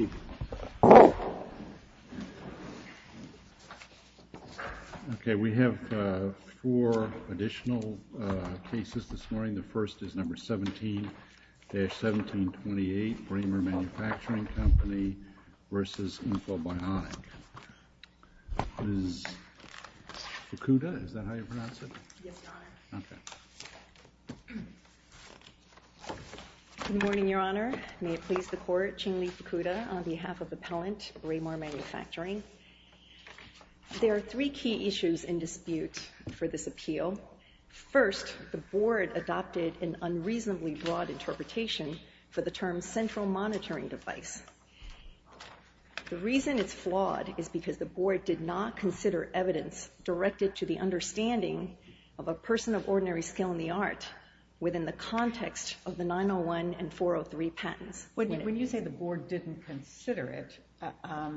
17-1728 Braemar Manufacturing, Inc. v. Infobionic, Inc. Good morning, Your Honor. May it please the Court, Ching-Li Fukuda, on behalf of Appellant Braemar Manufacturing. There are three key issues in dispute for this appeal. First, the Board adopted an unreasonably broad interpretation for the term central monitoring device. The reason it's flawed is because the Board did not consider evidence directed to the understanding of a person of ordinary skill in the art within the context of the 901 and 403 patents. When you say the Board didn't consider it, I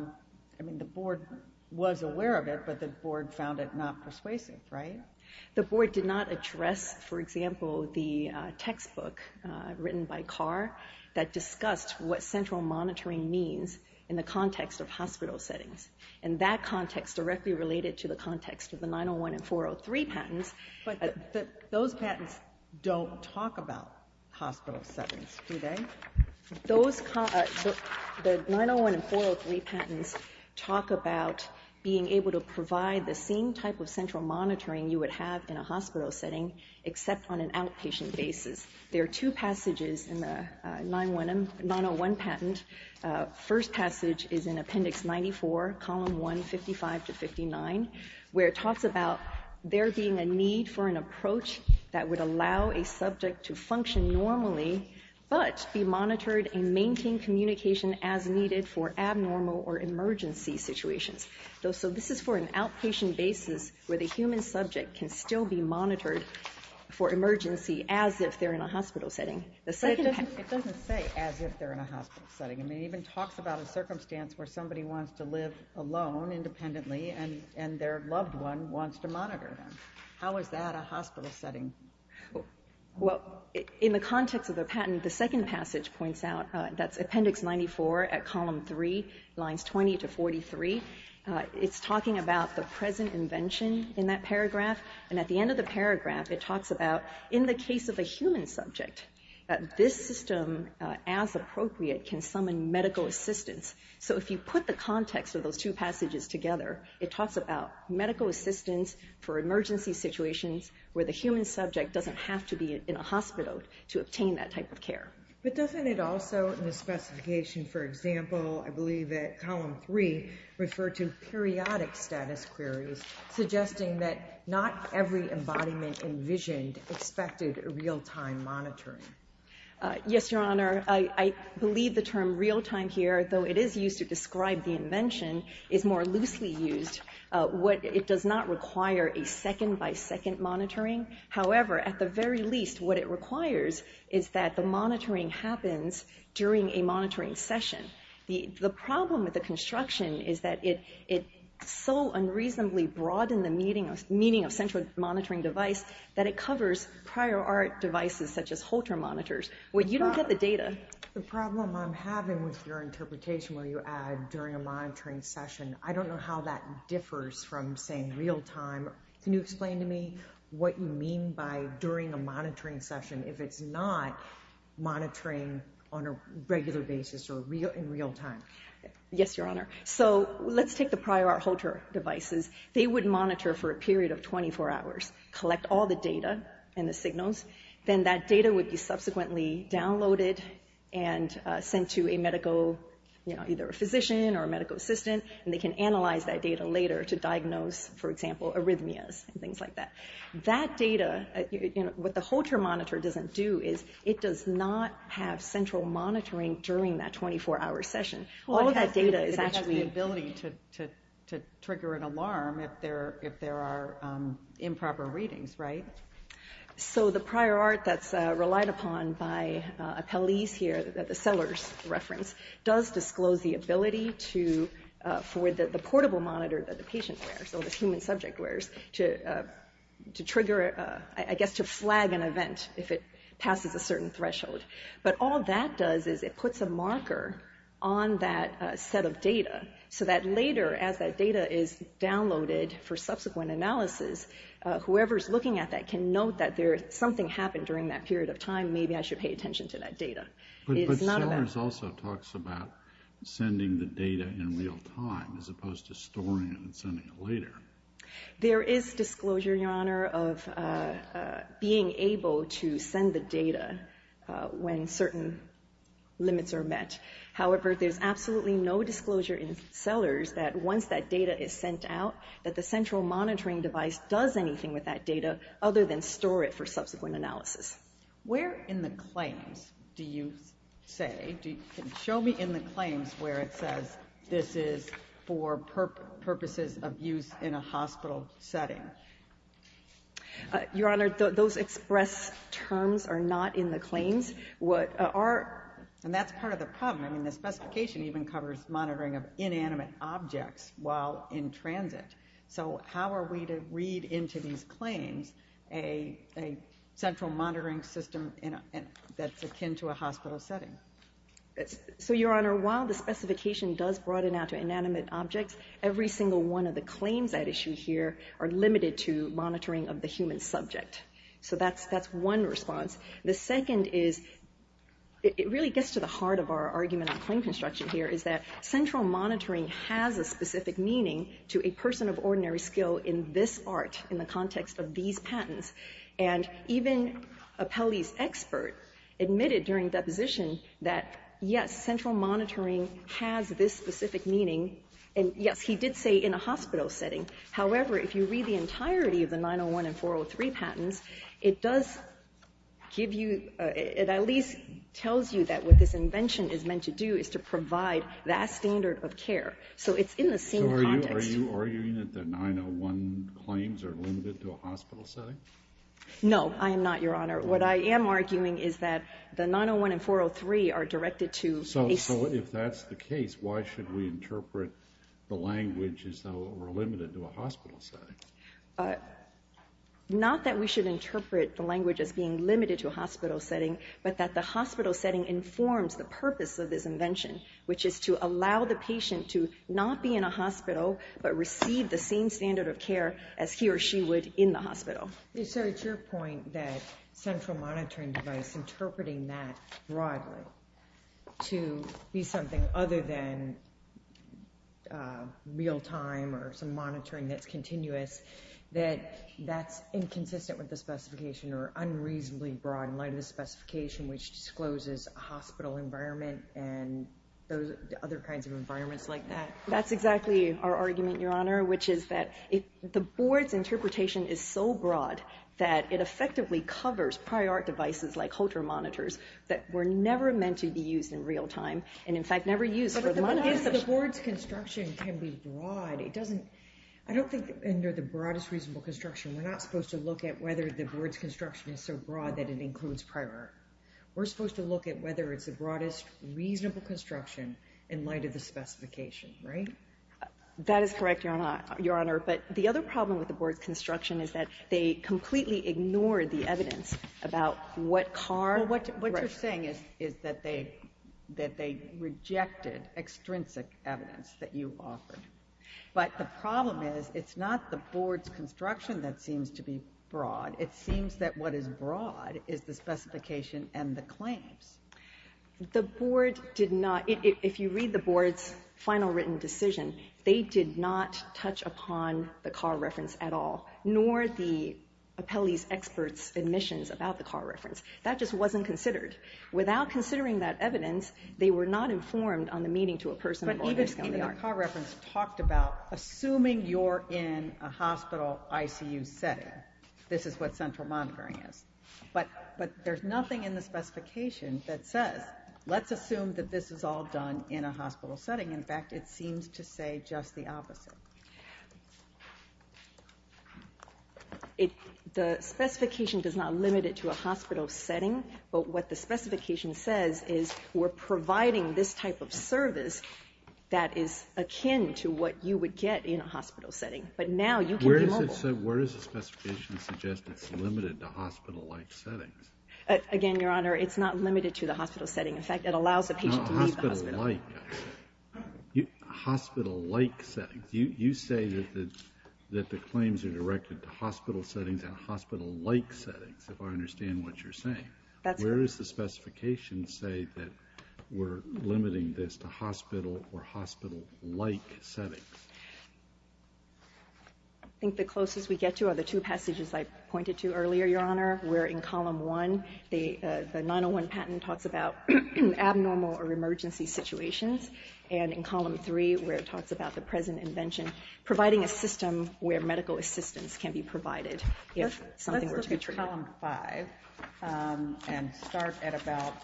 mean, the Board was aware of it, but the Board found it not persuasive, right? The Board did not address, for example, the textbook written by Carr that discussed what central monitoring means in the context of hospital settings, and that context directly related to the context of the 901 and 403 patents. But those patents don't talk about hospital settings, do they? The 901 and 403 patents talk about being able to provide the same type of central monitoring you would have in a hospital setting, except on an outpatient basis. There are two passages in the 901 patent. The first passage is in Appendix 94, Column 1, 55 to 59, where it talks about there being a need for an approach that would allow a subject to function normally, but be monitored and maintain communication as needed for abnormal or emergency situations. So this is for an outpatient basis where the patient is in an emergency as if they're in a hospital setting. It doesn't say as if they're in a hospital setting. It even talks about a circumstance where somebody wants to live alone independently, and their loved one wants to monitor them. How is that a hospital setting? Well, in the context of the patent, the second passage points out, that's Appendix 94 at Column 3, Lines 20 to 43. It's talking about the present invention in that paragraph, and at the end of the paragraph, it talks about, in the case of a human subject, that this system, as appropriate, can summon medical assistance. So if you put the context of those two passages together, it talks about medical assistance for emergency situations where the human subject doesn't have to be in a hospital to obtain that type of care. But doesn't it also, in the specification, for example, I believe at Column 3, refer to periodic status queries, suggesting that not every embodiment envisioned expected real-time monitoring? Yes, Your Honor. I believe the term real-time here, though it is used to describe the invention, is more loosely used. It does not require a second-by-second monitoring. However, at the very least, what it requires is that the monitoring happens during a monitoring session. The problem with the construction is that it so unreasonably broadened the meaning of central monitoring device that it covers prior art devices, such as Holter monitors, where you don't get the data. The problem I'm having with your interpretation where you add during a monitoring session, I don't know how that differs from saying real-time. Can you explain to me what you mean by during a monitoring session if it's not monitoring on a regular basis or in real-time? Yes, Your Honor. So let's take the prior art Holter devices. They would monitor for a period of 24 hours, collect all the data and the signals. Then that data would be subsequently downloaded and sent to a medical, you know, either a physician or a medical assistant, and they can analyze that data later to diagnose, for example, arrhythmias and things like that. That data, you know, what the Holter monitor doesn't do is it does not have central monitoring during that 24-hour session. All of that data is actually... It has the ability to trigger an alarm if there are improper readings, right? So the prior art that's relied upon by appellees here, the Sellers reference, does disclose the ability for the portable monitor that the patient wears, so the human subject wears, to trigger, I guess to flag an event if it passes a certain threshold. But all that does is it puts a marker on that set of data so that later as that data is downloaded for subsequent analysis, whoever's looking at that can note that something happened during that period of time, maybe I should pay attention to that data. But Sellers also talks about sending the data in real time as opposed to storing it and sending it later. There is disclosure, Your Honor, of being able to send the data when certain limits are met. However, there's absolutely no disclosure in Sellers that once that data is sent out, that the central monitoring device does anything with that data other than store it for subsequent analysis. Where in the claims do you say, show me in the claims where it says this is for purposes of use in a hospital setting? Your Honor, those express terms are not in the claims. What are, and that's part of the problem, the specification even covers monitoring of inanimate objects while in transit. So how are we to read into these claims a central monitoring system that's akin to a hospital setting? So, Your Honor, while the specification does broaden out to inanimate objects, every single one of the claims at issue here are limited to monitoring of the human subject. So that's one response. The second is, it really gets to the heart of our argument on to a person of ordinary skill in this art, in the context of these patents. And even a Pelley's expert admitted during deposition that, yes, central monitoring has this specific meaning, and yes, he did say in a hospital setting. However, if you read the entirety of the 901 and 403 patents, it does give you, it at least tells you that what this invention is meant to do is to provide that standard of care. So it's in the same context. So are you arguing that the 901 claims are limited to a hospital setting? No, I am not, Your Honor. What I am arguing is that the 901 and 403 are directed to a... So if that's the case, why should we interpret the language as though we're limited to a hospital setting? Not that we should interpret the language as being limited to a hospital setting, but that the hospital setting informs the purpose of this invention, which is to allow the patient to not be in a hospital, but receive the same standard of care as he or she would in the hospital. So it's your point that central monitoring device, interpreting that broadly to be something other than real time or some monitoring that's continuous, that that's inconsistent with the specification or unreasonably broad in light of the specification, which discloses a hospital environment and other kinds of environments like that? That's exactly our argument, Your Honor, which is that the board's interpretation is so broad that it effectively covers prior art devices like Holter monitors that were never meant to be used in real time, and in fact, never used for monitoring. But if the board's construction can be broad, it doesn't... I don't think under the broadest reasonable construction, we're not supposed to look at whether the board's construction is so broad that it includes prior art. We're supposed to look at whether it's the broadest reasonable construction in light of the specification, right? That is correct, Your Honor. But the other problem with the board's construction is that they completely ignored the evidence about what car... What you're saying is that they rejected extrinsic evidence that you offered. But the problem is, it's not the board's construction that seems to be broad. It seems that what is broad is the specification and the claims. The board did not... If you read the board's final written decision, they did not touch upon the car reference at all, nor the appellee's expert's admissions about the car reference. That just wasn't considered. Without considering that evidence, they were not informed on the meaning to a person... But even in the car reference talked about assuming you're in a hospital ICU setting. This is what central monitoring is. But there's nothing in the specification that says, let's assume that this is all done in a hospital setting. In fact, it seems to say just the opposite. The specification does not limit it to a hospital setting, but what the specification says is we're providing this type of service that is akin to what you would get in a hospital setting. But now you can be mobile. So where does the specification suggest it's limited to hospital-like settings? Again, Your Honor, it's not limited to the hospital setting. In fact, it allows a patient to leave the hospital. Hospital-like. Hospital-like settings. You say that the claims are directed to hospital settings and hospital-like settings, if I understand what you're saying. That's correct. Where does the specification say that we're limiting this to hospital or hospital-like settings? I think the closest we get to are the two passages I pointed to earlier, Your Honor, where in Column 1, the 901 patent talks about abnormal or emergency situations. And in Column 3, where it talks about the present invention, providing a system where medical assistance can be provided if something were to be treated. Let's look at Column 5 and start at about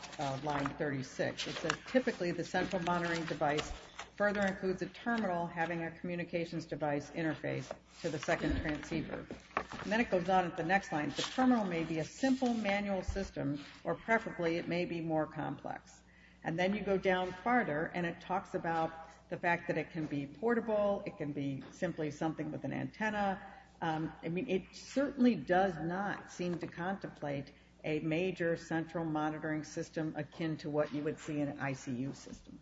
Line 36. It says, typically, the central monitoring device further includes a terminal having a communications device interface to the second transceiver. And then it goes on at the next line, the terminal may be a simple manual system or preferably it may be more complex. And then you go down farther and it talks about the fact that it can be portable, it can be simply something with an antenna. I mean, it certainly does not seem to contemplate a major central monitoring system akin to what you would see in an ICU system.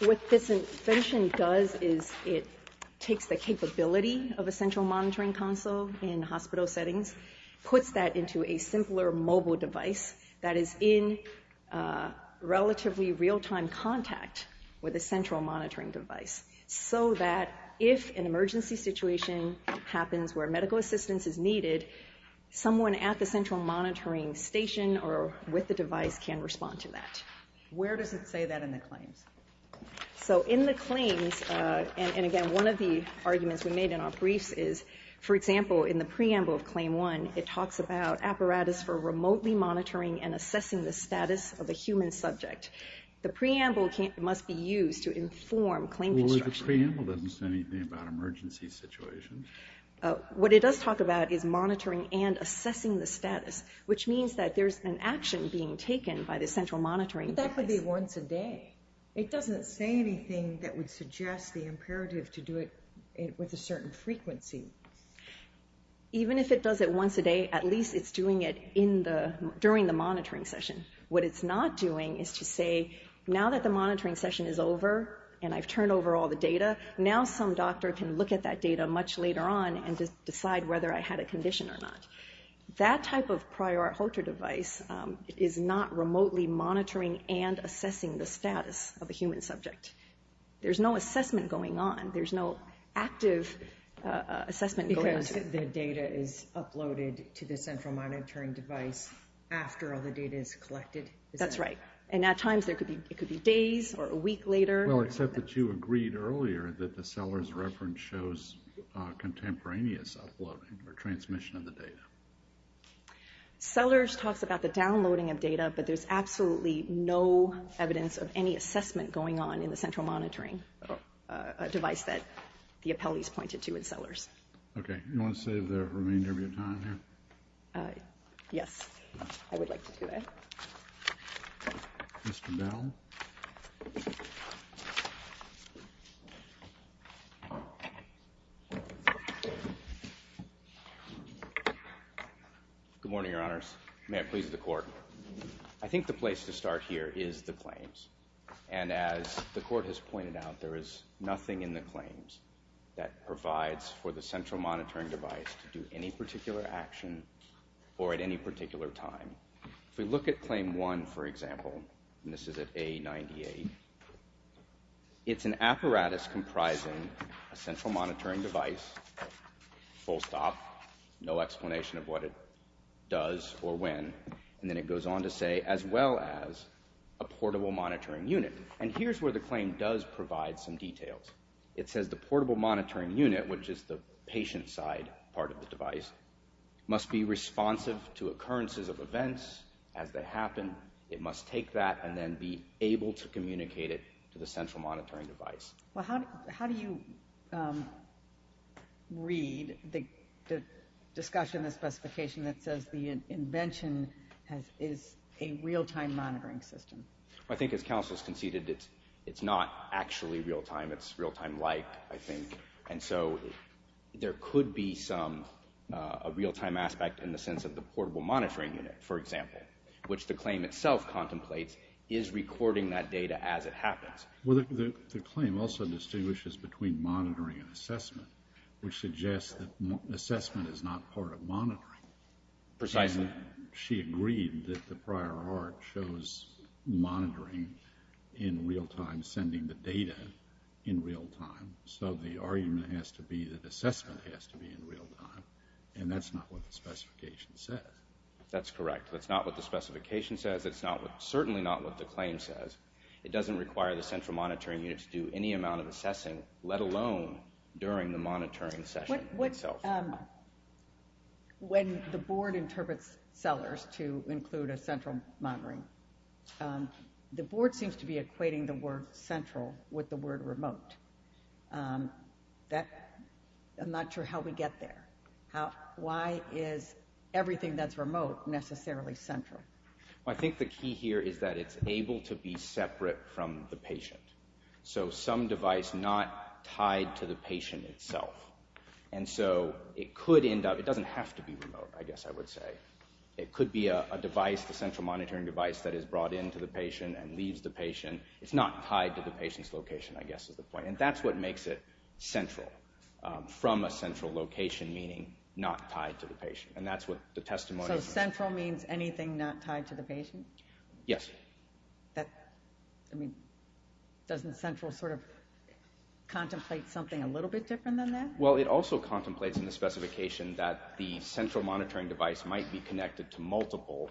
What this invention does is it takes the capability of a central monitoring console in hospital settings, puts that into a simpler mobile device that is in relatively real-time contact with a central monitoring device so that if an emergency situation happens where medical assistance is needed, someone at the central monitoring station or with the device can respond to that. Where does it say that in the claims? So in the claims, and again, one of the arguments we made in our briefs is, for example, in the preamble of Claim 1, it talks about apparatus for remotely monitoring and assessing the status of a human subject. The preamble must be used to inform claim construction. Well, the preamble doesn't say anything about emergency situations. What it does talk about is monitoring and assessing the status, which means that there's an action being taken by the central monitoring device. But that would be once a day. It doesn't say anything that would suggest the imperative to do it with a certain frequency. Even if it does it once a day, at least it's doing it during the monitoring session. What it's not doing is to say, now that the monitoring session is over and I've turned over all the data, now some doctor can look at that data much later on and decide whether I had a condition or not. That type of prior hoarder device is not remotely monitoring and assessing the status of a human subject. There's no assessment going on. There's no active assessment going on. Because the data is uploaded to the central monitoring device after all the data is collected? That's right. And at times it could be days or a week later. Well, except that you agreed earlier that the seller's reference shows contemporaneous uploading or transmission of the data. Sellers talks about the downloading of data, but there's absolutely no evidence of any assessment going on in the central monitoring device that the appellees pointed to in sellers. OK. You want to save the remainder of your time here? Yes. I would like to do that. Mr. Bell? Good morning, your honors. May it please the court. I think the place to start here is the claims. And as the court has pointed out, there is nothing in the claims that provides for the central monitoring device to do any particular action or at any particular time. If we look at claim one, for example, and this is at A98, it's an apparatus comprising a central monitoring device, full stop, no explanation of what it does or when. And then it goes on to say, as well as a portable monitoring unit. And here's where the claim does provide some details. It says the portable monitoring unit, which is the patient side part of the device, must be responsive to occurrences of events as they happen. It must take that and then be able to communicate it to the central monitoring device. Well, how do you read the discussion, the specification that says the invention is a real-time monitoring system? I think as counsel has conceded, it's not actually real-time. It's real-time-like, I think. And so there could be a real-time aspect in the sense of the portable monitoring unit, for example, which the claim itself contemplates is recording that data as it happens. Well, the claim also distinguishes between monitoring and assessment, which suggests that assessment is not part of monitoring. Precisely. She agreed that the prior art shows monitoring in real-time, sending the data in real-time. So the argument has to be that assessment has to be in real-time. And that's not what the specification says. That's correct. That's not what the specification says. That's certainly not what the claim says. It doesn't require the central monitoring unit to do any amount of assessing, let alone during the monitoring session itself. When the board interprets sellers to include a central monitoring, the board seems to be equating the word central with the word remote. I'm not sure how we get there. Why is everything that's remote necessarily central? I think the key here is that it's able to be separate from the patient. So some device not tied to the patient itself. And so it doesn't have to be remote, I guess I would say. It could be a device, the central monitoring device, that is brought in to the patient and leaves the patient. It's not tied to the patient's location, I guess is the point. And that's what makes it central. From a central location, meaning not tied to the patient. And that's what the testimony is. So central means anything not tied to the patient? Yes. Doesn't central sort of contemplate something a little bit different than that? Well, it also contemplates in the specification that the central monitoring device might be connected to multiple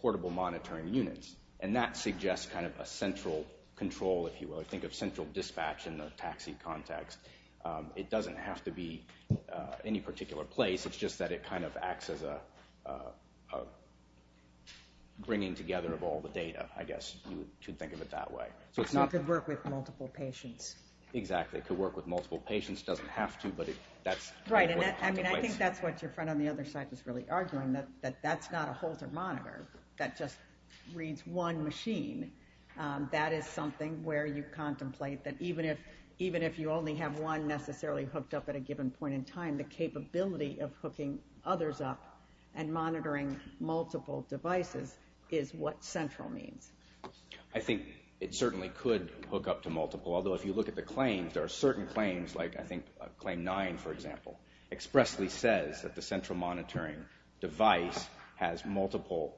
portable monitoring units. And that suggests kind of a central control, if you will. Think of central dispatch in the taxi context. It doesn't have to be any particular place. It's just that it kind of acts as a bringing together of all the data, I guess. You could think of it that way. So it could work with multiple patients. Exactly. It could work with multiple patients. It doesn't have to, but that's what it contemplates. Right. And I think that's what your friend on the other side was really arguing. That that's not a Holter monitor. That just reads one machine. That is something where you contemplate that even if you only have one necessarily hooked up at a given point in time, the capability of hooking others up and monitoring multiple devices is what central means. I think it certainly could hook up to multiple, although if you look at the claims, there are certain claims, like I think claim nine, for example, expressly says that the central monitoring device has multiple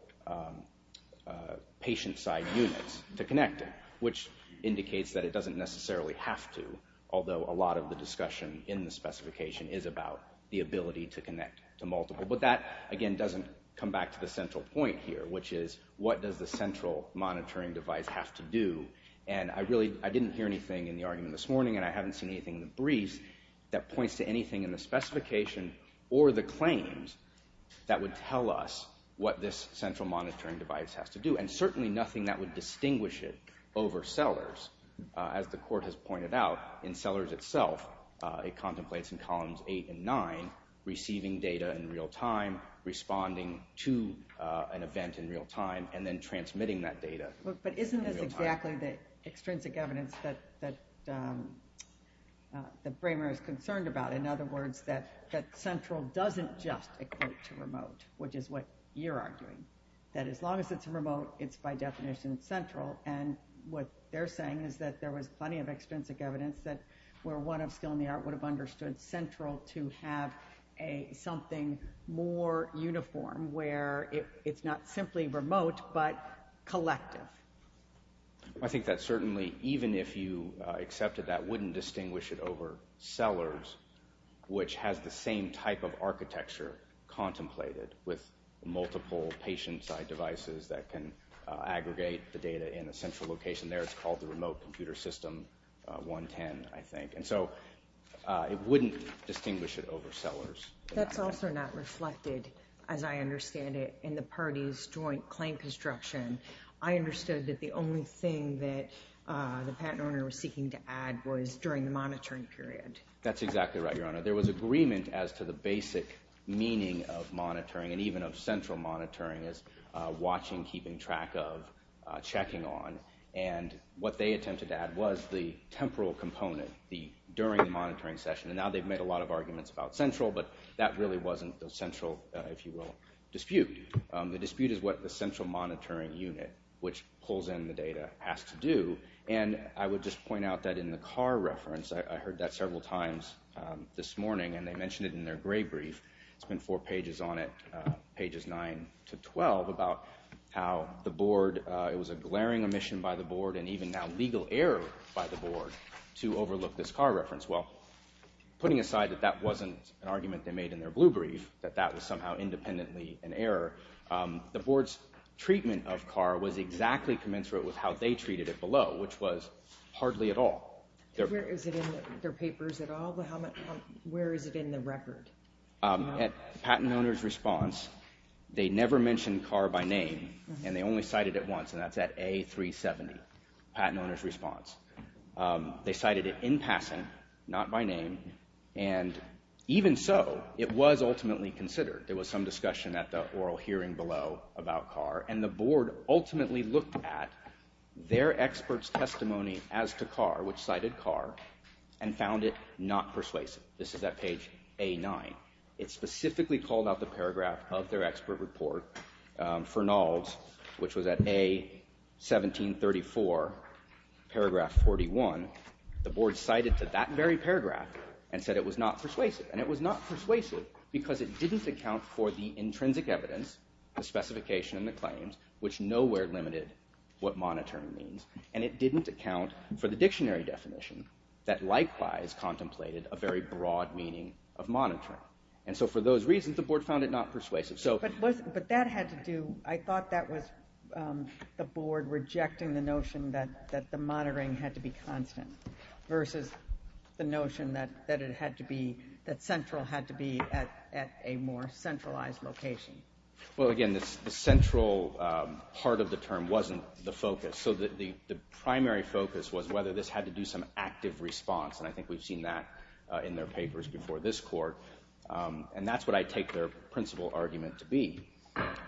patient-side units to connect it, which indicates that it doesn't necessarily have to, although a lot of the discussion in the specification is about the ability to connect to multiple. But that, again, doesn't come back to the central point here, which is what does the central monitoring device have to do? And I didn't hear anything in the argument this morning, and I haven't seen anything in the briefs that points to anything in the specification or the claims that would tell us what this central monitoring device has to do. And certainly nothing that would distinguish it over sellers. As the court has pointed out, in sellers itself, it contemplates in columns eight and nine receiving data in real time, responding to an event in real time, and then transmitting that data in real time. But isn't this exactly the extrinsic evidence that Bramer is concerned about? In other words, that central doesn't just equate to remote, which is what you're arguing. That as long as it's remote, it's by definition central. And what they're saying is that there was plenty of extrinsic evidence that were one of skill in the art would have understood central to have something more uniform, where it's not simply remote, but collective. I think that certainly, even if you accepted that, wouldn't distinguish it over sellers, which has the same type of architecture contemplated with multiple patient-side devices that can aggregate the data in a central location there. It's called the remote computer system 110, I think. And so it wouldn't distinguish it over sellers. That's also not reflected, as I understand it, in the parties' joint claim construction. I understood that the only thing that the patent owner was seeking to add was during the monitoring period. That's exactly right, Your Honor. There was agreement as to the basic meaning of monitoring, and even of central monitoring, as watching, keeping track of, checking on. And what they attempted to add was the temporal component during the monitoring session. And now they've made a lot of arguments about central, but that really wasn't the central, if you will, dispute. The dispute is what the central monitoring unit, which pulls in the data, has to do. And I would just point out that in the car reference, I heard that several times this morning, and they mentioned it in their gray brief. It's been four pages on it, pages 9 to 12, about how the board, it was a glaring omission by the board, and even now legal error by the board, to overlook this car reference. Well, putting aside that that wasn't an argument they made in their blue brief, that that was somehow independently an error, the board's treatment of car was exactly commensurate with how they treated it below, which was hardly at all. Where is it in their papers at all? Where is it in the record? At patent owner's response, they never mentioned car by name, and they only cited it once, and that's at A370, patent owner's response. They cited it in passing, not by name, and even so, it was ultimately considered. There was some discussion at the oral hearing below about car, and the board ultimately looked at their expert's testimony as to car, which cited car, and found it not persuasive. This is at page A9. It specifically called out the paragraph of their expert report, Fernald's, which was at A1734, paragraph 41. The board cited that very paragraph and said it was not persuasive, and it was not persuasive because it didn't account for the intrinsic evidence, the specification and the claims, which nowhere limited what monitoring means, and it didn't account for the dictionary definition that likewise contemplated a very broad meaning of monitoring. And so for those reasons, the board found it not persuasive. But that had to do, I thought that was the board rejecting the notion that the monitoring had to be constant versus the notion that it had to be, that central had to be at a more centralized location. Well, again, the central part of the term wasn't the focus. So the primary focus was whether this had to do some active response, and I think we've seen that in their papers before this court. And that's what I take their principal argument to be.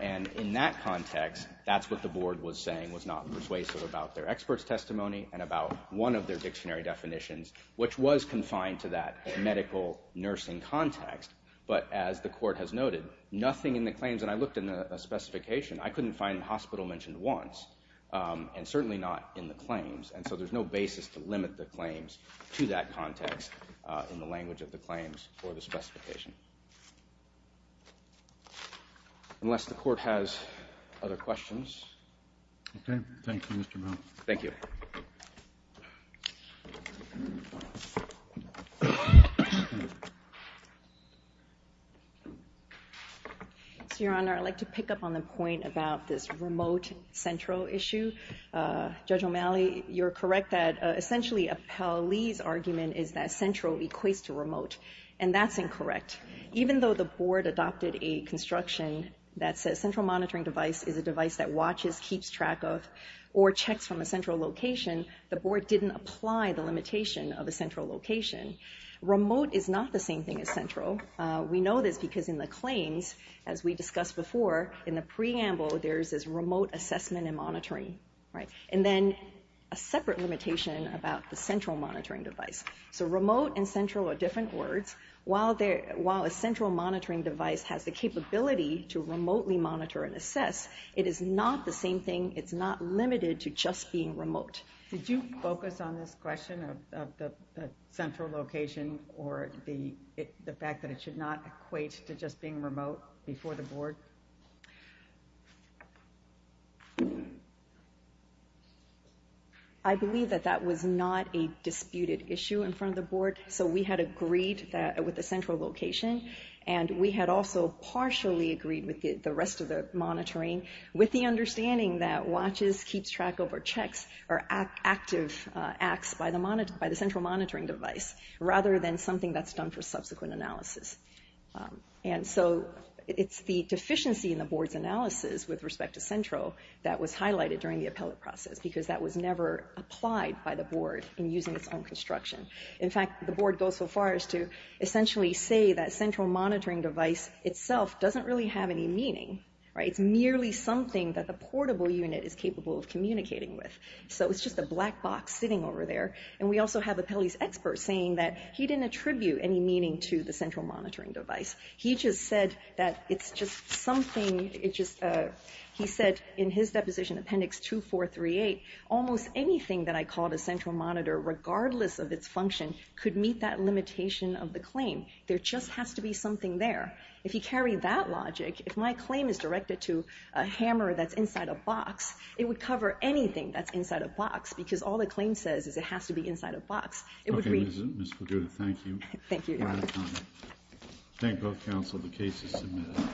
And in that context, that's what the board was saying was not persuasive about their expert's testimony and about one of their dictionary definitions, which was confined to that medical nursing context. But as the court has noted, nothing in the claims, and I looked in the specification, I couldn't find the hospital mentioned once, and certainly not in the claims. And so there's no basis to limit the claims to that context in the language of the claims or the specification. Unless the court has other questions. Okay, thank you, Mr. Mou. Thank you. So, Your Honor, I'd like to pick up on the point about this remote central issue. Judge O'Malley, you're correct that essentially Appell Lee's argument is that central equates to remote, and that's incorrect. Even though the board adopted a construction that says central monitoring device is a device that watches, keeps track of, or checks from a central location, the board didn't apply the limitation of a central location. Remote is not the same thing as central. We know this because in the claims, as we discussed before, in the preamble, there's this remote assessment and monitoring. And then a separate limitation about the central monitoring device. So remote and central are different words. While a central monitoring device has the capability to remotely monitor and assess, it is not the same thing. It's not limited to just being remote. Did you focus on this question of the central location or the fact that it should not equate to just being remote before the board? I believe that that was not a disputed issue in front of the board, so we had agreed with the central location, and we had also partially agreed with the rest of the monitoring, with the understanding that watches, keeps track of, or checks are active acts by the central monitoring device, rather than something that's done for subsequent analysis. And so it's the deficiency in the board's analysis with respect to central that was highlighted during the appellate process, because that was never applied by the board in using its own construction. In fact, the board goes so far as to essentially say that central monitoring device itself doesn't really have any meaning. It's merely something that the portable unit is capable of communicating with. So it's just a black box sitting over there, and we also have appellees' experts saying that he didn't attribute any meaning to the central monitoring device. He just said that it's just something, he said in his deposition, Appendix 2438, almost anything that I called a central monitor, regardless of its function, could meet that limitation of the claim. There just has to be something there. If you carry that logic, if my claim is directed to a hammer that's inside a box, it would cover anything that's inside a box, because all the claim says is it has to be inside a box. It would read... Okay, Ms. Figueroa, thank you. Thank you, Your Honor. Thank both counsel. The case is submitted.